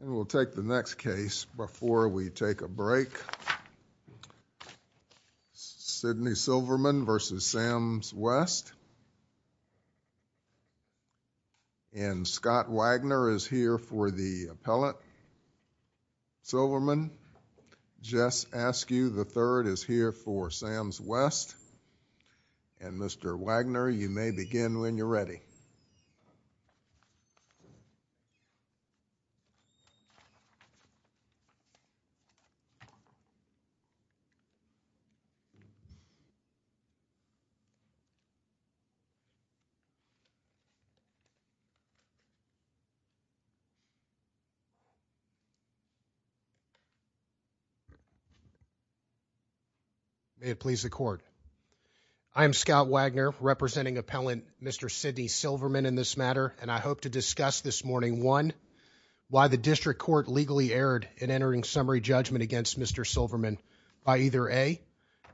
And we'll take the next case before we take a break. Sydney Silverman v. Sam's West. And Scott Wagner is here for the appellate. Silverman, Jess Askew III is here for Sam's West. And, Mr. Wagner, you may begin when you're ready. May it please the court. I am Scott Wagner, representing appellant Mr. Sydney Silverman in this matter, and I hope to discuss this morning, one, why the district court legally erred in entering summary judgment against Mr. Silverman by either, A,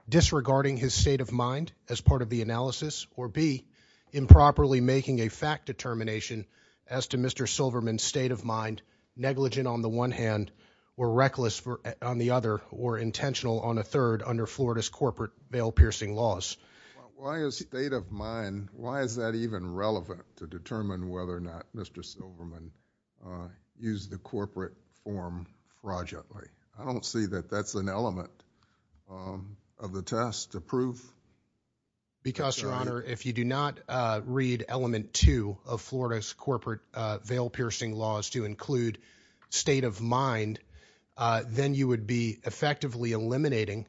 disregarding his state of mind as part of the analysis, or B, improperly making a fact determination as to Mr. Silverman's state of mind, negligent on the one hand, or reckless on the other, or intentional on a third under Florida's corporate bail-piercing laws. Why is state of mind, why is that even relevant to determine whether or not Mr. Silverman used the corporate form project? I don't see that that's an element of the test to prove Mr. Silverman. Because, Your Honor, if you do not read element two of Florida's corporate bail-piercing laws to include state of mind, then you would be effectively eliminating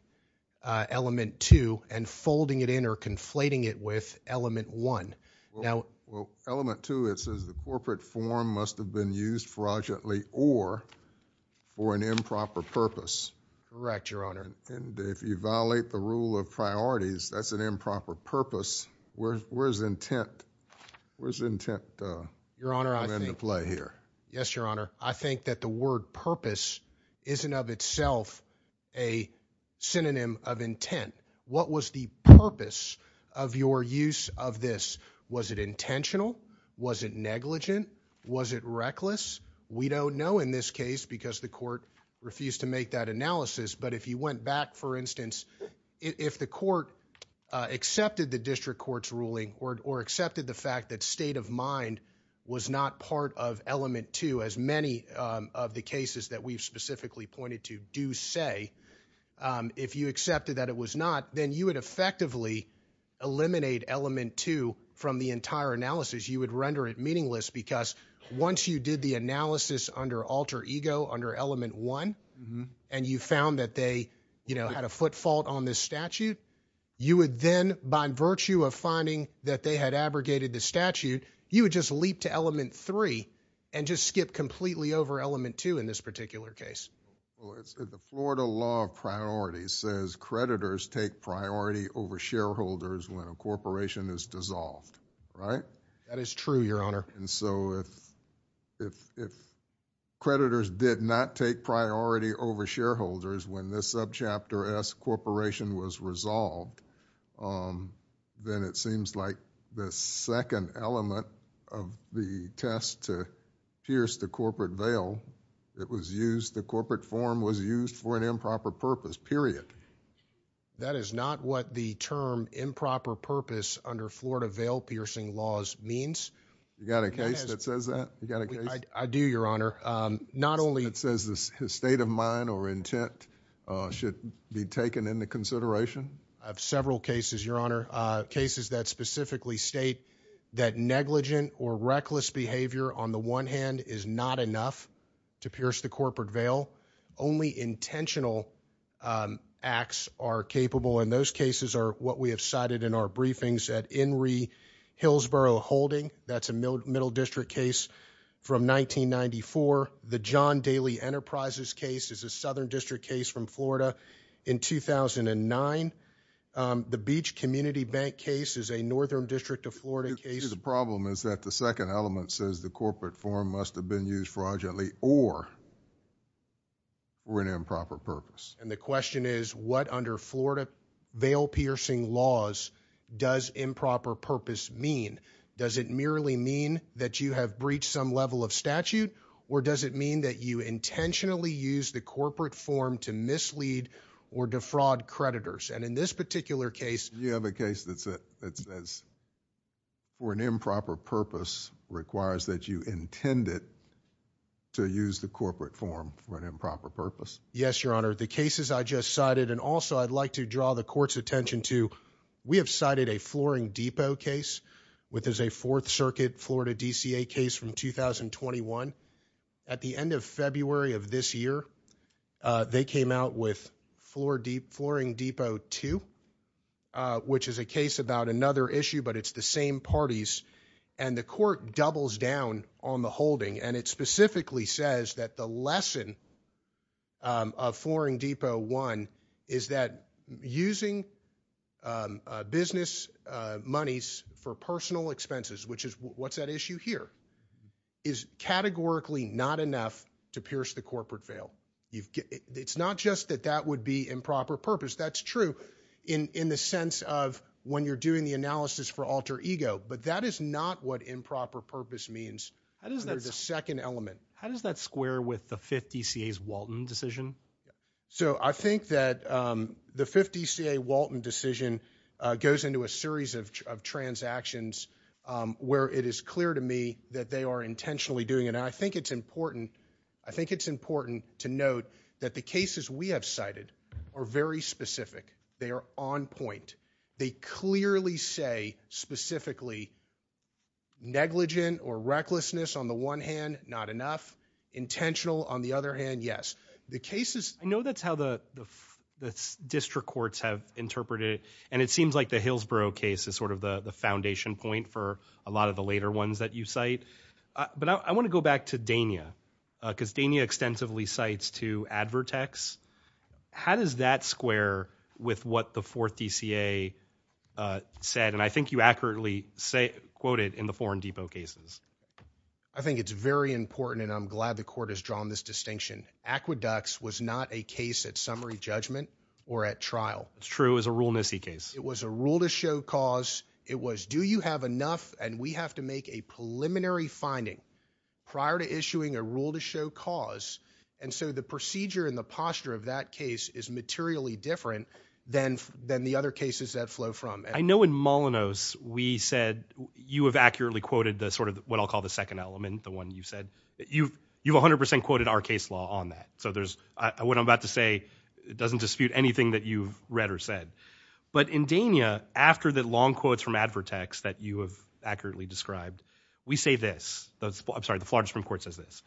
element two and folding it in or conflating it with element one. Well, element two, it says the corporate form must have been used fraudulently or for an improper purpose. Correct, Your Honor. And if you violate the rule of priorities, that's an improper purpose. Where's intent? Where's intent come into play here? Yes, Your Honor. What was the purpose of your use of this? Was it intentional? Was it negligent? Was it reckless? We don't know in this case because the court refused to make that analysis, but if you went back, for instance, if the court accepted the district court's ruling or accepted the fact that state of mind was not part of element two, as many of the cases that we've specifically pointed to do say, if you accepted that it was not, then you would effectively eliminate element two from the entire analysis. You would render it meaningless because once you did the analysis under alter ego, under element one, and you found that they had a foot fault on this statute, you would then, by virtue of finding that they had abrogated the statute, you would just leap to element three and just skip completely over element two in this particular case. The Florida law of priorities says creditors take priority over shareholders when a corporation is dissolved. Right? That is true, Your Honor. If creditors did not take priority over shareholders when this subchapter S corporation was resolved, then it seems like the second element of the test to pierce the corporate veil, it was used, the corporate form was used for an improper purpose, period. That is not what the term improper purpose under Florida veil piercing laws means. You got a case that says that? You got a case? I do, Your Honor. Not only... It says the state of mind or intent should be taken into consideration? I have several cases, Your Honor, cases that specifically state that negligent or reckless behavior on the one hand is not enough to pierce the corporate veil. Only intentional acts are capable, and those cases are what we have cited in our briefings at Henry Hillsborough Holding. That's a middle district case from 1994. The John Daly Enterprises case is a southern district case from Florida in 2009. The Beach Community Bank case is a northern district of Florida case. The problem is that the second element says the corporate form must have been used fraudulently or for an improper purpose. And the question is, what under Florida veil piercing laws does improper purpose mean? Does it merely mean that you have breached some level of statute? Or does it mean that you intentionally used the corporate form to mislead or defraud creditors? And in this particular case... You have a case that says for an improper purpose requires that you intended to use the corporate form for an improper purpose? Yes, Your Honor. The cases I just cited, and also I'd like to draw the court's attention to, we have a Flooring Depot case, which is a Fourth Circuit Florida DCA case from 2021. At the end of February of this year, they came out with Flooring Depot 2, which is a case about another issue, but it's the same parties. And the court doubles down on the holding, and it specifically says that the lesson of monies for personal expenses, which is what's at issue here, is categorically not enough to pierce the corporate veil. It's not just that that would be improper purpose. That's true in the sense of when you're doing the analysis for alter ego, but that is not what improper purpose means under the second element. How does that square with the Fifth DCA's Walton decision? So I think that the Fifth DCA Walton decision goes into a series of transactions where it is clear to me that they are intentionally doing it. And I think it's important to note that the cases we have cited are very specific. They are on point. They clearly say specifically negligent or recklessness on the one hand, not enough. Intentional on the other hand, yes. I know that's how the district courts have interpreted it, and it seems like the Hillsborough case is sort of the foundation point for a lot of the later ones that you cite. But I want to go back to Dania, because Dania extensively cites to Advertex. How does that square with what the Fourth DCA said, and I think you accurately quoted in the Foreign Depot cases? I think it's very important, and I'm glad the court has drawn this distinction. Aqueducts was not a case at summary judgment or at trial. It's true. It was a rule-nessy case. It was a rule-to-show cause. It was, do you have enough, and we have to make a preliminary finding prior to issuing a rule-to-show cause. And so the procedure and the posture of that case is materially different than the other cases that flow from. I know in Molyneux, we said, you have accurately quoted the sort of what I'll call the second element, the one you said, you've 100% quoted our case law on that. So there's, what I'm about to say doesn't dispute anything that you've read or said. But in Dania, after the long quotes from Advertex that you have accurately described, we say this, I'm sorry, the Florida Supreme Court says this.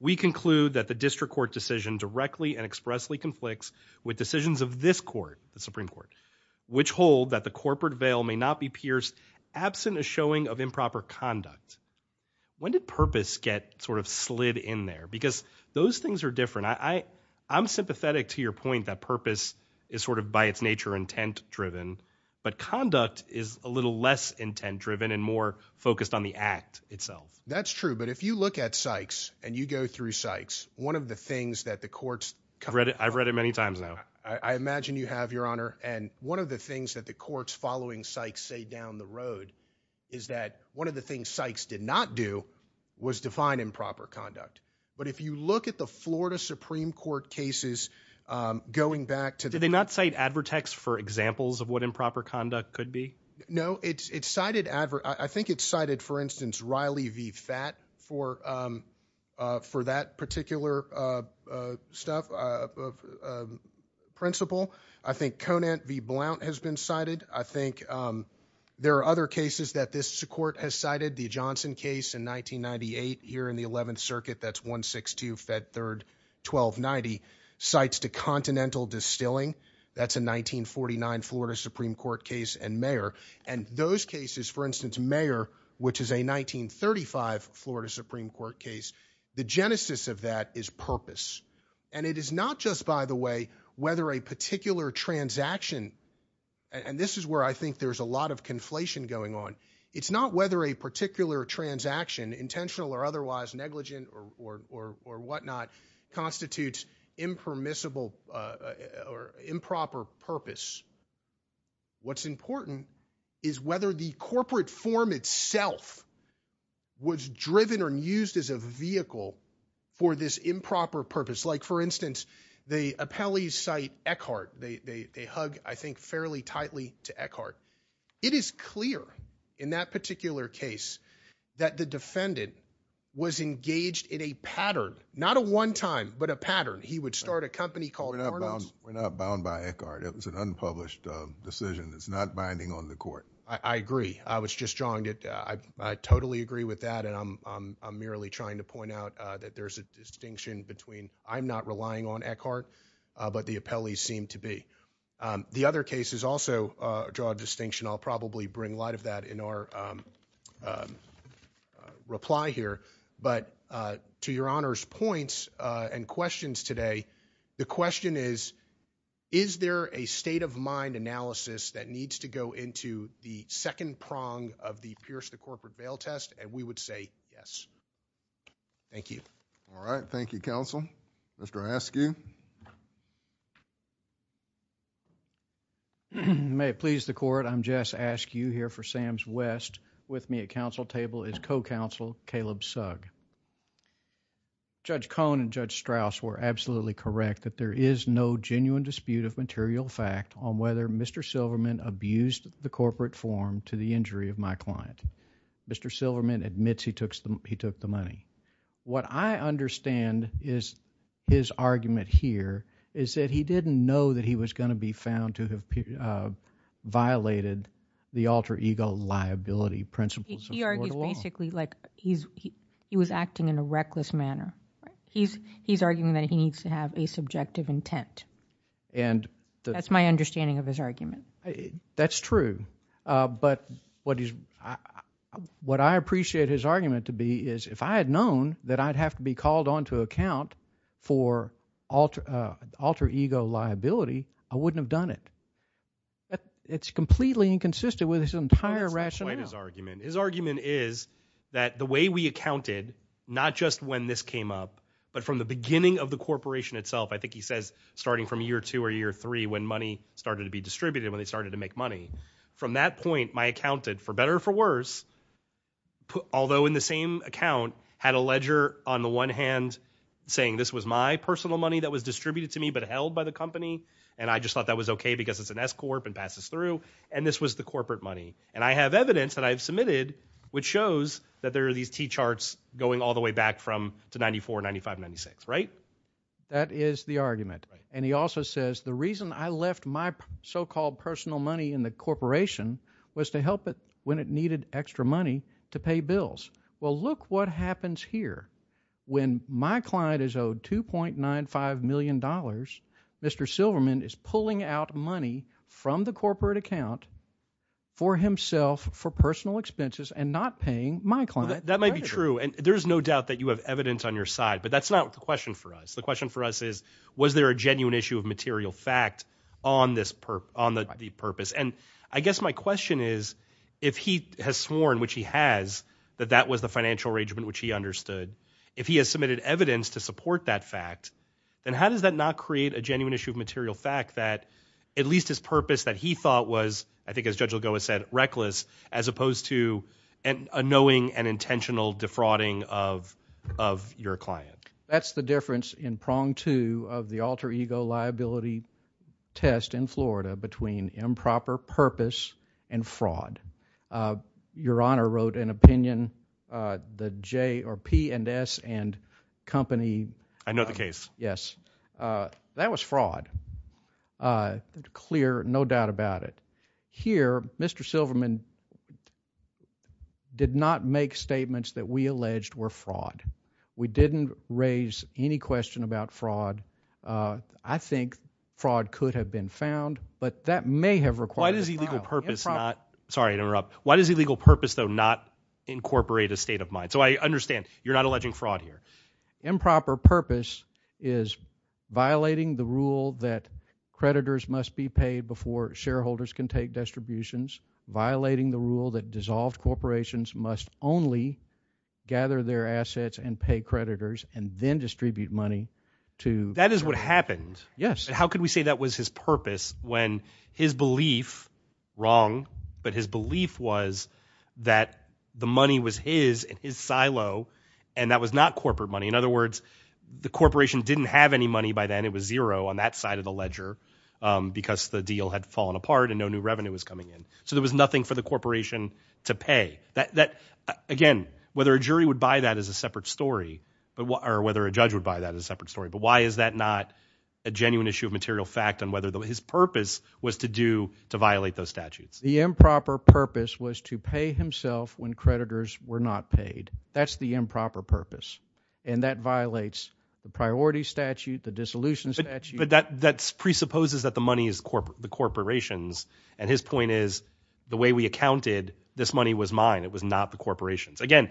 We conclude that the district court decision directly and expressly conflicts with decisions of this court, the Supreme Court, which hold that the corporate veil may not be pierced absent a showing of improper conduct. When did purpose get sort of slid in there? Because those things are different. I'm sympathetic to your point that purpose is sort of, by its nature, intent-driven, but conduct is a little less intent-driven and more focused on the act itself. That's true. But if you look at Sykes and you go through Sykes, one of the things that the courts cover I've read it many times now. I imagine you have, Your Honor. And one of the things that the courts following Sykes say down the road is that one of the things Sykes did not do was define improper conduct. But if you look at the Florida Supreme Court cases, going back to the... Did they not cite Advertex for examples of what improper conduct could be? No, it's cited Adver... Principle. I think Conant v. Blount has been cited. I think there are other cases that this court has cited. The Johnson case in 1998 here in the 11th Circuit, that's 162 Fed 3rd 1290, cites to Continental Distilling. That's a 1949 Florida Supreme Court case and Mayer. And those cases, for instance, Mayer, which is a 1935 Florida Supreme Court case, the genesis of that is purpose. And it is not just, by the way, whether a particular transaction... And this is where I think there's a lot of conflation going on. It's not whether a particular transaction, intentional or otherwise, negligent or whatnot, constitutes impermissible or improper purpose. What's important is whether the corporate form itself was driven or used as a vehicle for this improper purpose. Like for instance, the appellees cite Eckhart. They hug, I think, fairly tightly to Eckhart. It is clear in that particular case that the defendant was engaged in a pattern. Not a one time, but a pattern. He would start a company called Arnold's. We're not bound by Eckhart. It was an unpublished decision. It's not binding on the court. I agree. I was just jaundiced. I totally agree with that and I'm merely trying to point out that there's a distinction between I'm not relying on Eckhart, but the appellees seem to be. The other cases also draw a distinction. I'll probably bring a lot of that in our reply here. But to your Honor's points and questions today, the question is, is there a state of mind analysis that needs to go into the second prong of the Pierce the Corporate Bail Test? We would say yes. Thank you. All right. Thank you, counsel. Mr. Askew. May it please the court, I'm Jess Askew here for Sam's West. With me at counsel table is co-counsel Caleb Sugg. Judge Cohn and Judge Strauss were absolutely correct that there is no genuine dispute of whether Mr. Silverman abused the corporate form to the injury of my client. Mr. Silverman admits he took the money. What I understand is his argument here is that he didn't know that he was going to be found to have violated the alter ego liability principles of the court of law. He was acting in a reckless manner. He's arguing that he needs to have a subjective intent. That's my understanding of his argument. That's true. But what I appreciate his argument to be is if I had known that I'd have to be called on to account for alter ego liability, I wouldn't have done it. It's completely inconsistent with his entire rationale. That's quite his argument. His argument is that the way we accounted, not just when this came up, but from the beginning of the corporation itself, I think he says starting from year two or year three when money started to be distributed, when they started to make money. From that point, my accountant, for better or for worse, although in the same account, had a ledger on the one hand saying this was my personal money that was distributed to me but held by the company, and I just thought that was okay because it's an S-corp and passes through, and this was the corporate money. And I have evidence that I've submitted which shows that there are these T-charts going all the way back from to 94, 95, 96, right? That is the argument. And he also says the reason I left my so-called personal money in the corporation was to help it when it needed extra money to pay bills. Well, look what happens here. When my client is owed $2.95 million, Mr. Silverman is pulling out money from the corporate account for himself for personal expenses and not paying my client. That might be true. And there's no doubt that you have evidence on your side, but that's not the question for us. The question for us is, was there a genuine issue of material fact on the purpose? And I guess my question is, if he has sworn, which he has, that that was the financial arrangement which he understood, if he has submitted evidence to support that fact, then how does that not create a genuine issue of material fact that at least his purpose that he thought was, I think as Judge Lugo has said, reckless, as opposed to a knowing and thwarting of your client? That's the difference in prong two of the alter ego liability test in Florida between improper purpose and fraud. Your Honor wrote an opinion, the J or P and S and company. I know the case. Yes. That was fraud, clear, no doubt about it. Here, Mr. Silverman did not make statements that we alleged were fraud. We didn't raise any question about fraud. I think fraud could have been found, but that may have required- Why does illegal purpose not, sorry to interrupt, why does illegal purpose, though, not incorporate a state of mind? So I understand you're not alleging fraud here. Improper purpose is violating the rule that creditors must be paid before shareholders can take distributions, violating the rule that dissolved corporations must only gather their assets and pay creditors and then distribute money to- That is what happened. Yes. How could we say that was his purpose when his belief, wrong, but his belief was that the money was his and his silo and that was not corporate money? In other words, the corporation didn't have any money by then. It was zero on that side of the ledger because the deal had fallen apart and no new revenue was coming in. So there was nothing for the corporation to pay. Again, whether a jury would buy that is a separate story, or whether a judge would buy that is a separate story, but why is that not a genuine issue of material fact on whether his purpose was to violate those statutes? The improper purpose was to pay himself when creditors were not paid. That's the improper purpose and that violates the priority statute, the dissolution statute. But that presupposes that the money is the corporations and his point is the way we accounted, this money was mine. It was not the corporation's. Again,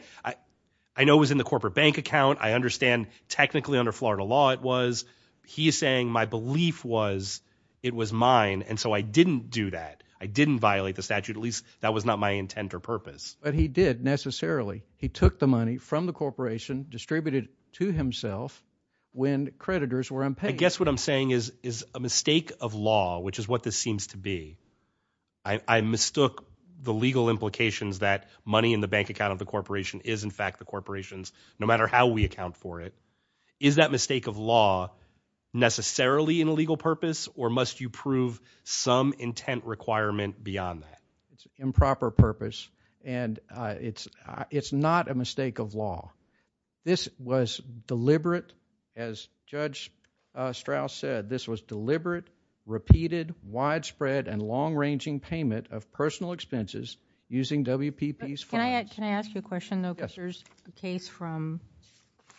I know it was in the corporate bank account. I understand technically under Florida law it was. He is saying my belief was it was mine and so I didn't do that. I didn't violate the statute, at least that was not my intent or purpose. But he did necessarily. He took the money from the corporation, distributed it to himself when creditors were unpaid. I guess what I'm saying is a mistake of law, which is what this seems to be. I mistook the legal implications that money in the bank account of the corporation is in fact the corporations, no matter how we account for it. Is that mistake of law necessarily an illegal purpose or must you prove some intent requirement beyond that? It's an improper purpose and it's not a mistake of law. This was deliberate, as Judge Strauss said, this was deliberate, repeated, widespread and long-ranging payment of personal expenses using WPP's funds. Can I ask you a question, though, because there's a case from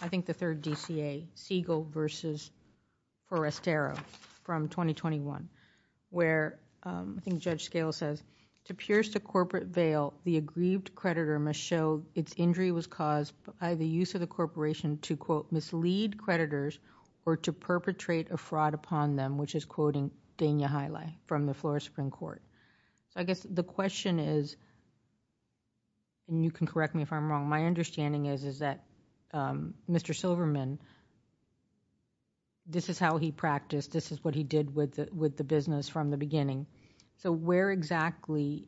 I think the third DCA, Siegel versus Forastero from 2021, where I think Judge Scales says, to pierce the corporate veil, the aggrieved creditor must show its injury was caused by the use of the corporation to, quote, mislead creditors or to perpetrate a fraud upon them, which is quoting Dania Hiley from the Florida Supreme Court. The question is, and you can correct me if I'm wrong, my understanding is that Mr. Silverman said, this is how he practiced, this is what he did with the business from the beginning, so where exactly,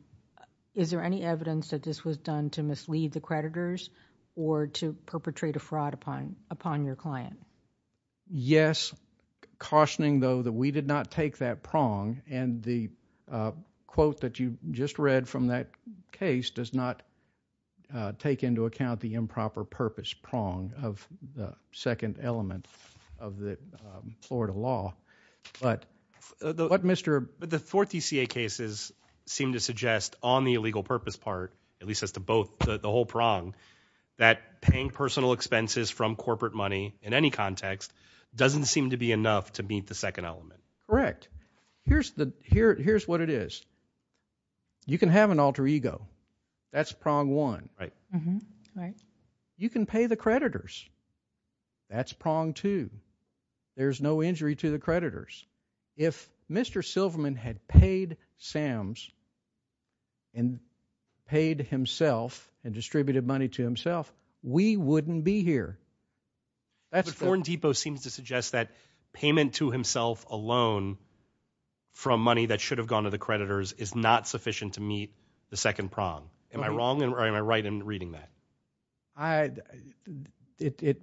is there any evidence that this was done to mislead the creditors or to perpetrate a fraud upon your client? Yes, cautioning, though, that we did not take that prong and the quote that you just read from that case does not take into account the improper purpose prong of the second element of the Florida law, but what Mr. But the fourth DCA cases seem to suggest on the illegal purpose part, at least as to both, the whole prong, that paying personal expenses from corporate money in any context doesn't seem to be enough to meet the second element. Correct. Here's what it is. You can have an alter ego. That's prong one. Right. Mm-hmm. Right. You can pay the creditors. That's prong two. There's no injury to the creditors. If Mr. Silverman had paid Sam's and paid himself and distributed money to himself, we wouldn't be here. But Foreign Depot seems to suggest that payment to himself alone from money that should have gone to the creditors is not sufficient to meet the second prong. Am I wrong or am I right in reading that? It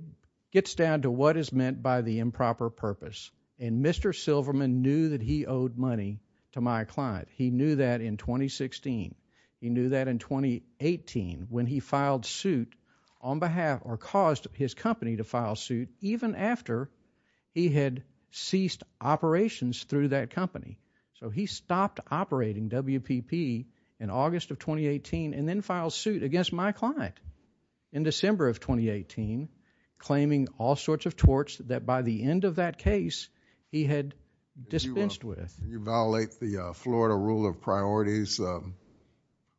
gets down to what is meant by the improper purpose. And Mr. Silverman knew that he owed money to my client. He knew that in 2016. He knew that in 2018 when he filed suit on behalf or caused his company to file suit even after he had ceased operations through that company. So he stopped operating WPP in August of 2018 and then filed suit against my client in December of 2018 claiming all sorts of torts that by the end of that case he had dispensed with. You violate the Florida rule of priorities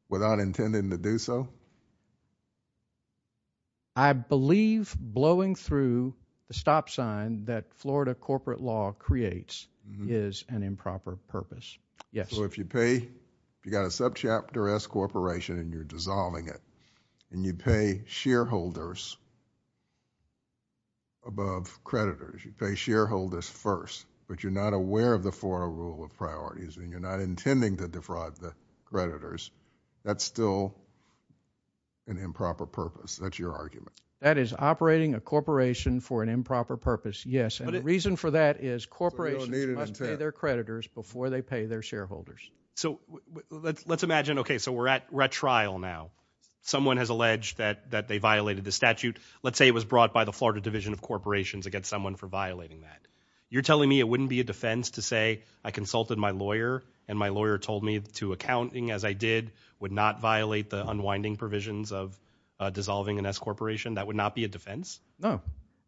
without intending to do so? I believe blowing through the stop sign that Florida corporate law creates is an improper purpose. Yes. So if you pay, if you've got a subchapter S corporation and you're dissolving it and you pay shareholders above creditors, you pay shareholders first, but you're not aware of the Florida rule of priorities and you're not intending to defraud the creditors, that's still an improper purpose. That's your argument. That is operating a corporation for an improper purpose, yes, and the reason for that is corporations must pay their creditors before they pay their shareholders. So let's imagine, okay, so we're at trial now. Someone has alleged that they violated the statute. Let's say it was brought by the Florida Division of Corporations against someone for violating that. You're telling me it wouldn't be a defense to say I consulted my lawyer and my lawyer told me to accounting as I did would not violate the unwinding provisions of dissolving an S corporation? That would not be a defense? No.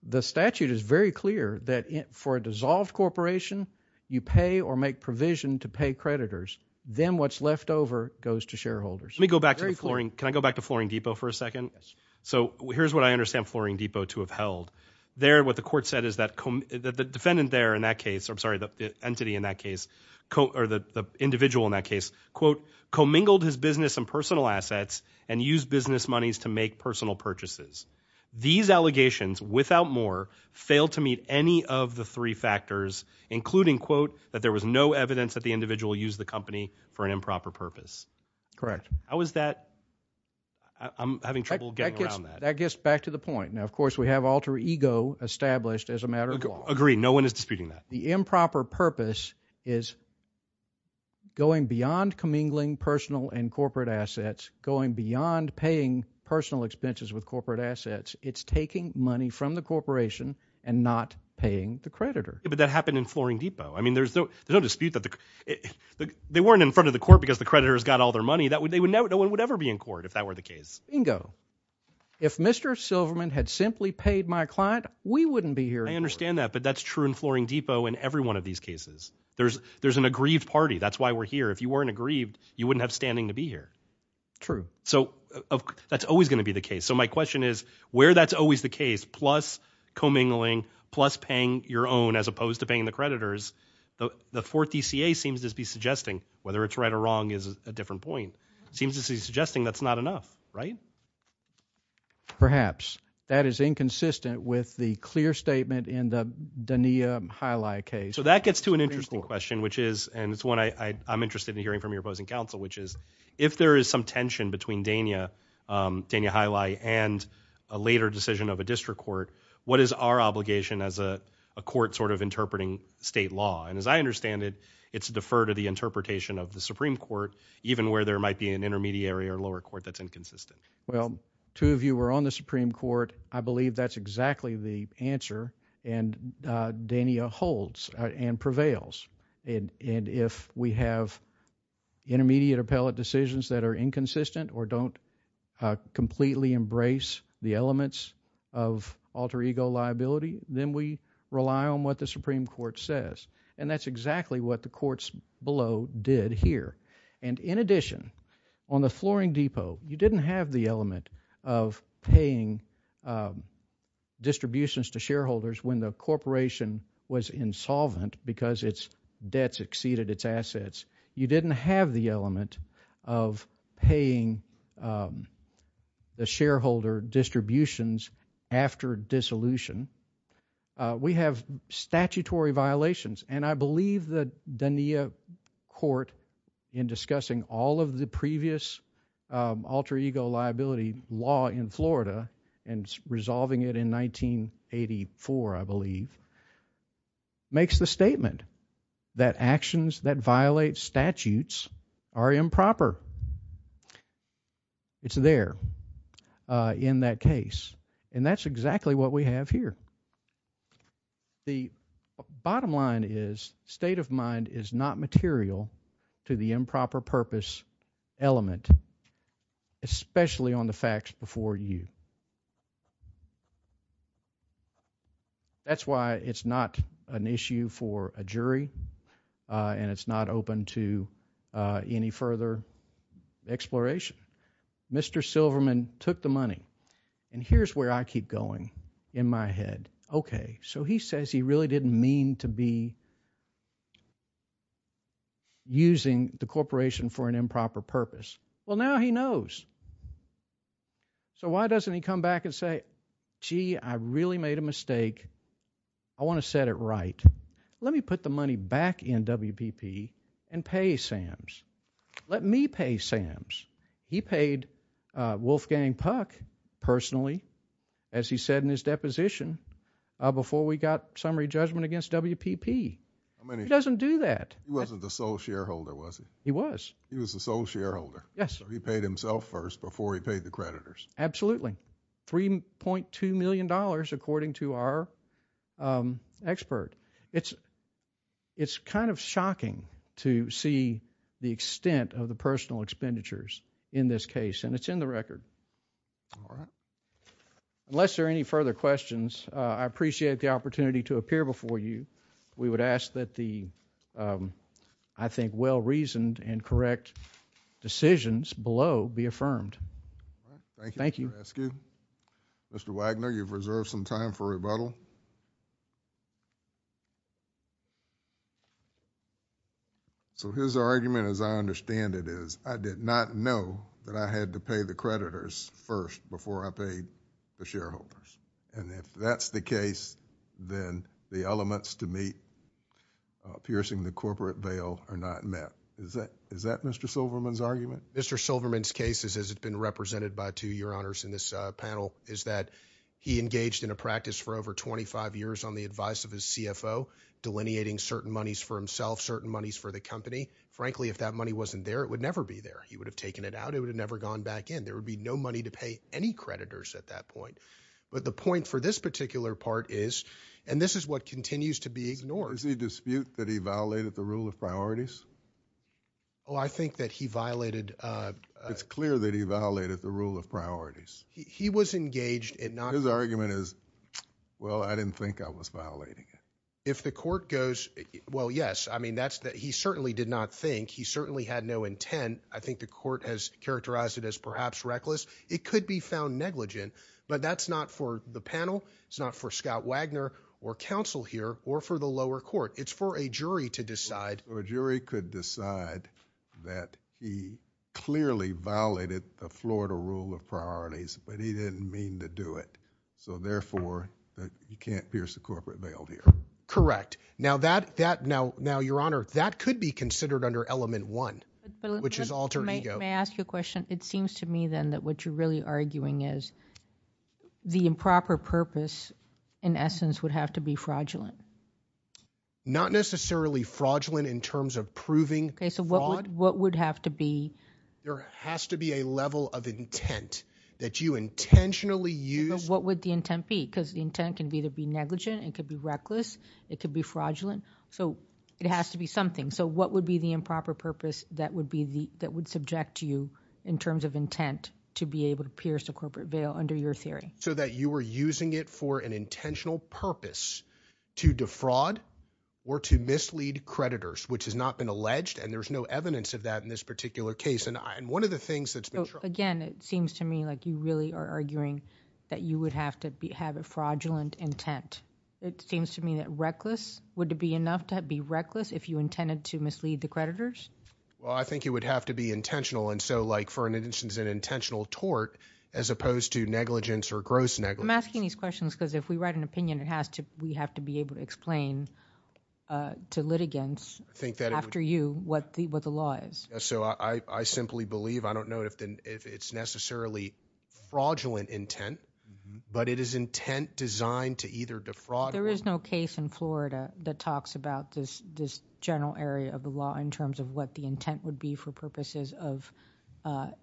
The statute is very clear that for a dissolved corporation, you pay or make provision to pay creditors. Then what's left over goes to shareholders. Let me go back to the flooring. Can I go back to Flooring Depot for a second? So here's what I understand Flooring Depot to have held. There what the court said is that the defendant there in that case, I'm sorry, the entity in that case, or the individual in that case, quote, commingled his business and personal assets and use business monies to make personal purchases. These allegations without more failed to meet any of the three factors, including, quote, that there was no evidence that the individual used the company for an improper purpose. Correct. How is that? I'm having trouble getting around that. That gets back to the point. Now, of course, we have alter ego established as a matter of law. Agree. No one is disputing that. The improper purpose is going beyond commingling personal and corporate assets, going beyond paying personal expenses with corporate assets. It's taking money from the corporation and not paying the creditor. But that happened in Flooring Depot. I mean, there's no dispute that they weren't in front of the court because the creditors got all their money that they would know no one would ever be in court if that were the case. Bingo. If Mr. Silverman had simply paid my client, we wouldn't be here. I understand that. I understand that. But that's true in Flooring Depot. In every one of these cases, there's there's an aggrieved party. That's why we're here. If you weren't aggrieved, you wouldn't have standing to be here. True. So that's always going to be the case. So my question is where that's always the case, plus commingling, plus paying your own as opposed to paying the creditors. The fourth D.C.A. seems to be suggesting whether it's right or wrong is a different point. Seems to be suggesting that's not enough, right? Perhaps. That is inconsistent with the clear statement in the Dania Hylai case. So that gets to an interesting question, which is and it's one I'm interested in hearing from your opposing counsel, which is if there is some tension between Dania, Dania Hylai and a later decision of a district court, what is our obligation as a court sort of interpreting state law? And as I understand it, it's deferred to the interpretation of the Supreme Court, even where there might be an intermediary or lower court that's inconsistent. Well, two of you were on the Supreme Court. I believe that's exactly the answer. And Dania holds and prevails. And if we have intermediate appellate decisions that are inconsistent or don't completely embrace the elements of alter ego liability, then we rely on what the Supreme Court says. And that's exactly what the courts below did here. And in addition, on the Flooring Depot, you didn't have the element of paying distributions to shareholders when the corporation was insolvent because its debts exceeded its assets. You didn't have the element of paying the shareholder distributions after dissolution. We have statutory violations. And I believe that Dania court in discussing all of the previous alter ego liability law in Florida and resolving it in 1984, I believe, makes the statement that actions that violate statutes are improper. It's there in that case. And that's exactly what we have here. The bottom line is state of mind is not material to the improper purpose element, especially on the facts before you. That's why it's not an issue for a jury and it's not open to any further exploration. Mr. Silverman took the money. And here's where I keep going in my head. Okay. So he says he really didn't mean to be using the corporation for an improper purpose. Well now he knows. So why doesn't he come back and say, gee, I really made a mistake. I want to set it right. Let me put the money back in WPP and pay Sam's. Let me pay Sam's. He paid Wolfgang Puck personally, as he said in his deposition, before we got summary judgment against WPP. He doesn't do that. He wasn't the sole shareholder, was he? He was. He was the sole shareholder. Yes. So he paid himself first before he paid the creditors. Absolutely. $3.2 million according to our expert. It's kind of shocking to see the extent of the personal expenditures in this case. And it's in the record. All right. Unless there are any further questions, I appreciate the opportunity to appear before you. We would ask that the, I think, well-reasoned and correct decisions below be affirmed. Thank you. Thank you. Mr. Wagner, you've reserved some time for rebuttal. So his argument, as I understand it, is I did not know that I had to pay the creditors first before I paid the shareholders. And if that's the case, then the elements to meet piercing the corporate bail are not met. Is that Mr. Silverman's argument? Mr. Silverman's case, as it's been represented by two of your honors in this panel, is that he engaged in a practice for over 25 years on the advice of his CFO, delineating certain monies for himself, certain monies for the company. Frankly, if that money wasn't there, it would never be there. He would have taken it out. It would have never gone back in. There would be no money to pay any creditors at that point. But the point for this particular part is, and this is what continues to be ignored. Is the dispute that he violated the rule of priorities? Oh, I think that he violated. It's clear that he violated the rule of priorities. He was engaged in not. His argument is, well, I didn't think I was violating it. If the court goes, well, yes, I mean, that's that. He certainly did not think he certainly had no intent. I think the court has characterized it as perhaps reckless. It could be found negligent. But that's not for the panel. It's not for Scott Wagner or counsel here or for the lower court. It's for a jury to decide. A jury could decide that he clearly violated the Florida rule of priorities, but he didn't mean to do it. So therefore, you can't pierce the corporate veil here. Correct. Now, that that now. Now, Your Honor, that could be considered under element one, which is alter ego. May I ask you a question? It seems to me, then, that what you're really arguing is the improper purpose, in essence, would have to be fraudulent. Not necessarily fraudulent in terms of proving fraud. So what would have to be? There has to be a level of intent that you intentionally use. What would the intent be? Because the intent can either be negligent, it could be reckless, it could be fraudulent. So it has to be something. So what would be the improper purpose that would be the that would subject you in terms of intent to be able to pierce the corporate veil under your theory? So that you were using it for an intentional purpose to defraud or to mislead creditors, which has not been alleged, and there's no evidence of that in this particular case. And one of the things that's been. Again, it seems to me like you really are arguing that you would have to be have a fraudulent intent. It seems to me that reckless would be enough to be reckless if you intended to mislead the creditors. Well, I think it would have to be intentional. And so like for an instance, an intentional tort, as opposed to negligence or gross negligence. I'm asking these questions because if we write an opinion, it has to we have to be able to explain to litigants after you what the what the law is. So I simply believe I don't know if it's necessarily fraudulent intent, but it is intent designed to either defraud. There is no case in Florida that talks about this this general area of the law in terms of what the intent would be for purposes of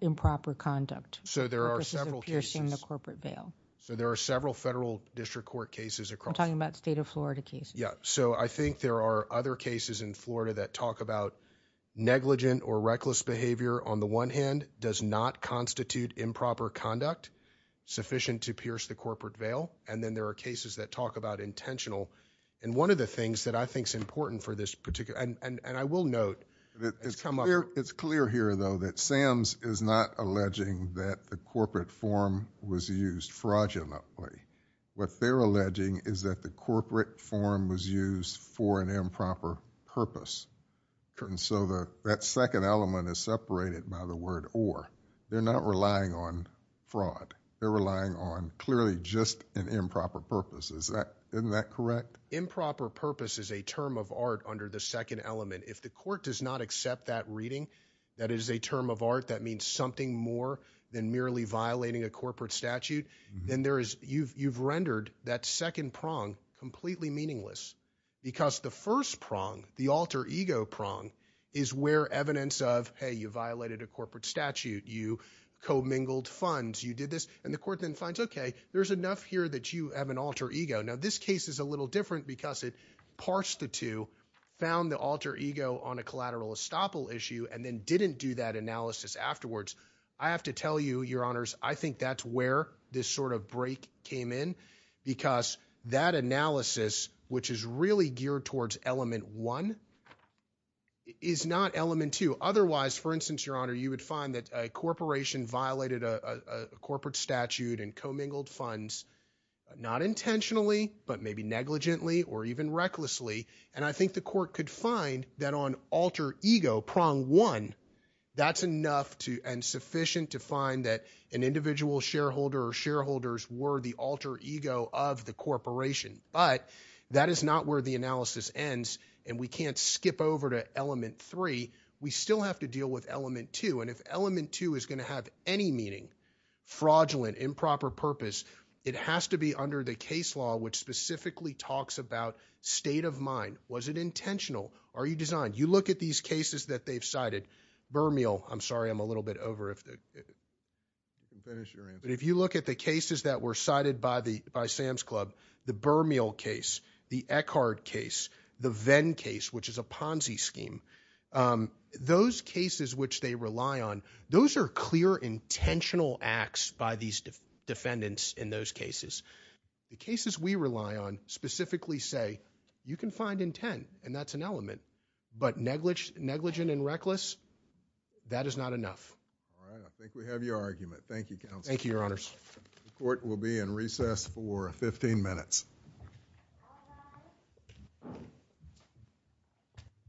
improper conduct. So there are several cases in the corporate bail. So there are several federal district court cases across talking about state of Florida case. Yeah. So I think there are other cases in Florida that talk about negligent or reckless behavior. On the one hand, does not constitute improper conduct sufficient to pierce the corporate bail. And then there are cases that talk about intentional. And one of the things that I think is important for this particular and I will note that it's come up here. It's clear here, though, that Sam's is not alleging that the corporate form was used fraudulently. What they're alleging is that the corporate form was used for an improper purpose. And so that second element is separated by the word or they're not relying on fraud. They're relying on clearly just an improper purpose. Is that correct? Improper purpose is a term of art under the second element. If the court does not accept that reading, that is a term of art that means something more than merely violating a corporate statute, then there is you've you've rendered that second prong completely meaningless because the first prong, the alter ego prong is where evidence of, hey, you violated a corporate statute. You commingled funds. You did this. And the court then finds, OK, there's enough here that you have an alter ego. Now, this case is a little different because it parsed the two found the alter ego on a collateral estoppel issue and then didn't do that analysis afterwards. I have to tell you, your honors, I think that's where this sort of break came in, because that analysis, which is really geared towards element one. Is not element to otherwise, for instance, your honor, you would find that a corporation violated a corporate statute and commingled funds, not intentionally, but maybe negligently or even recklessly. And I think the court could find that on alter ego prong one, that's enough to and sufficient to find that an individual shareholder or shareholders were the alter ego of the corporation. But that is not where the analysis ends. And we can't skip over to element three. We still have to deal with element two. And if element two is going to have any meaning, fraudulent, improper purpose, it has to be under the case law, which specifically talks about state of mind. Was it intentional? Are you designed you look at these cases that they've cited Burmeal? I'm sorry, I'm a little bit over if the finish, but if you look at the cases that were cited by the by Sam's Club, the Burmeal case, the Eckhart case, the Venn case, which is a Ponzi scheme. Those cases which they rely on, those are clear, intentional acts by these defendants. In those cases, the cases we rely on specifically say you can find intent and that's an element, but negligent, negligent and reckless. That is not enough. All right. I think we have your argument. Thank you. Thank you, Your Honors. Court will be in recess for 15 minutes.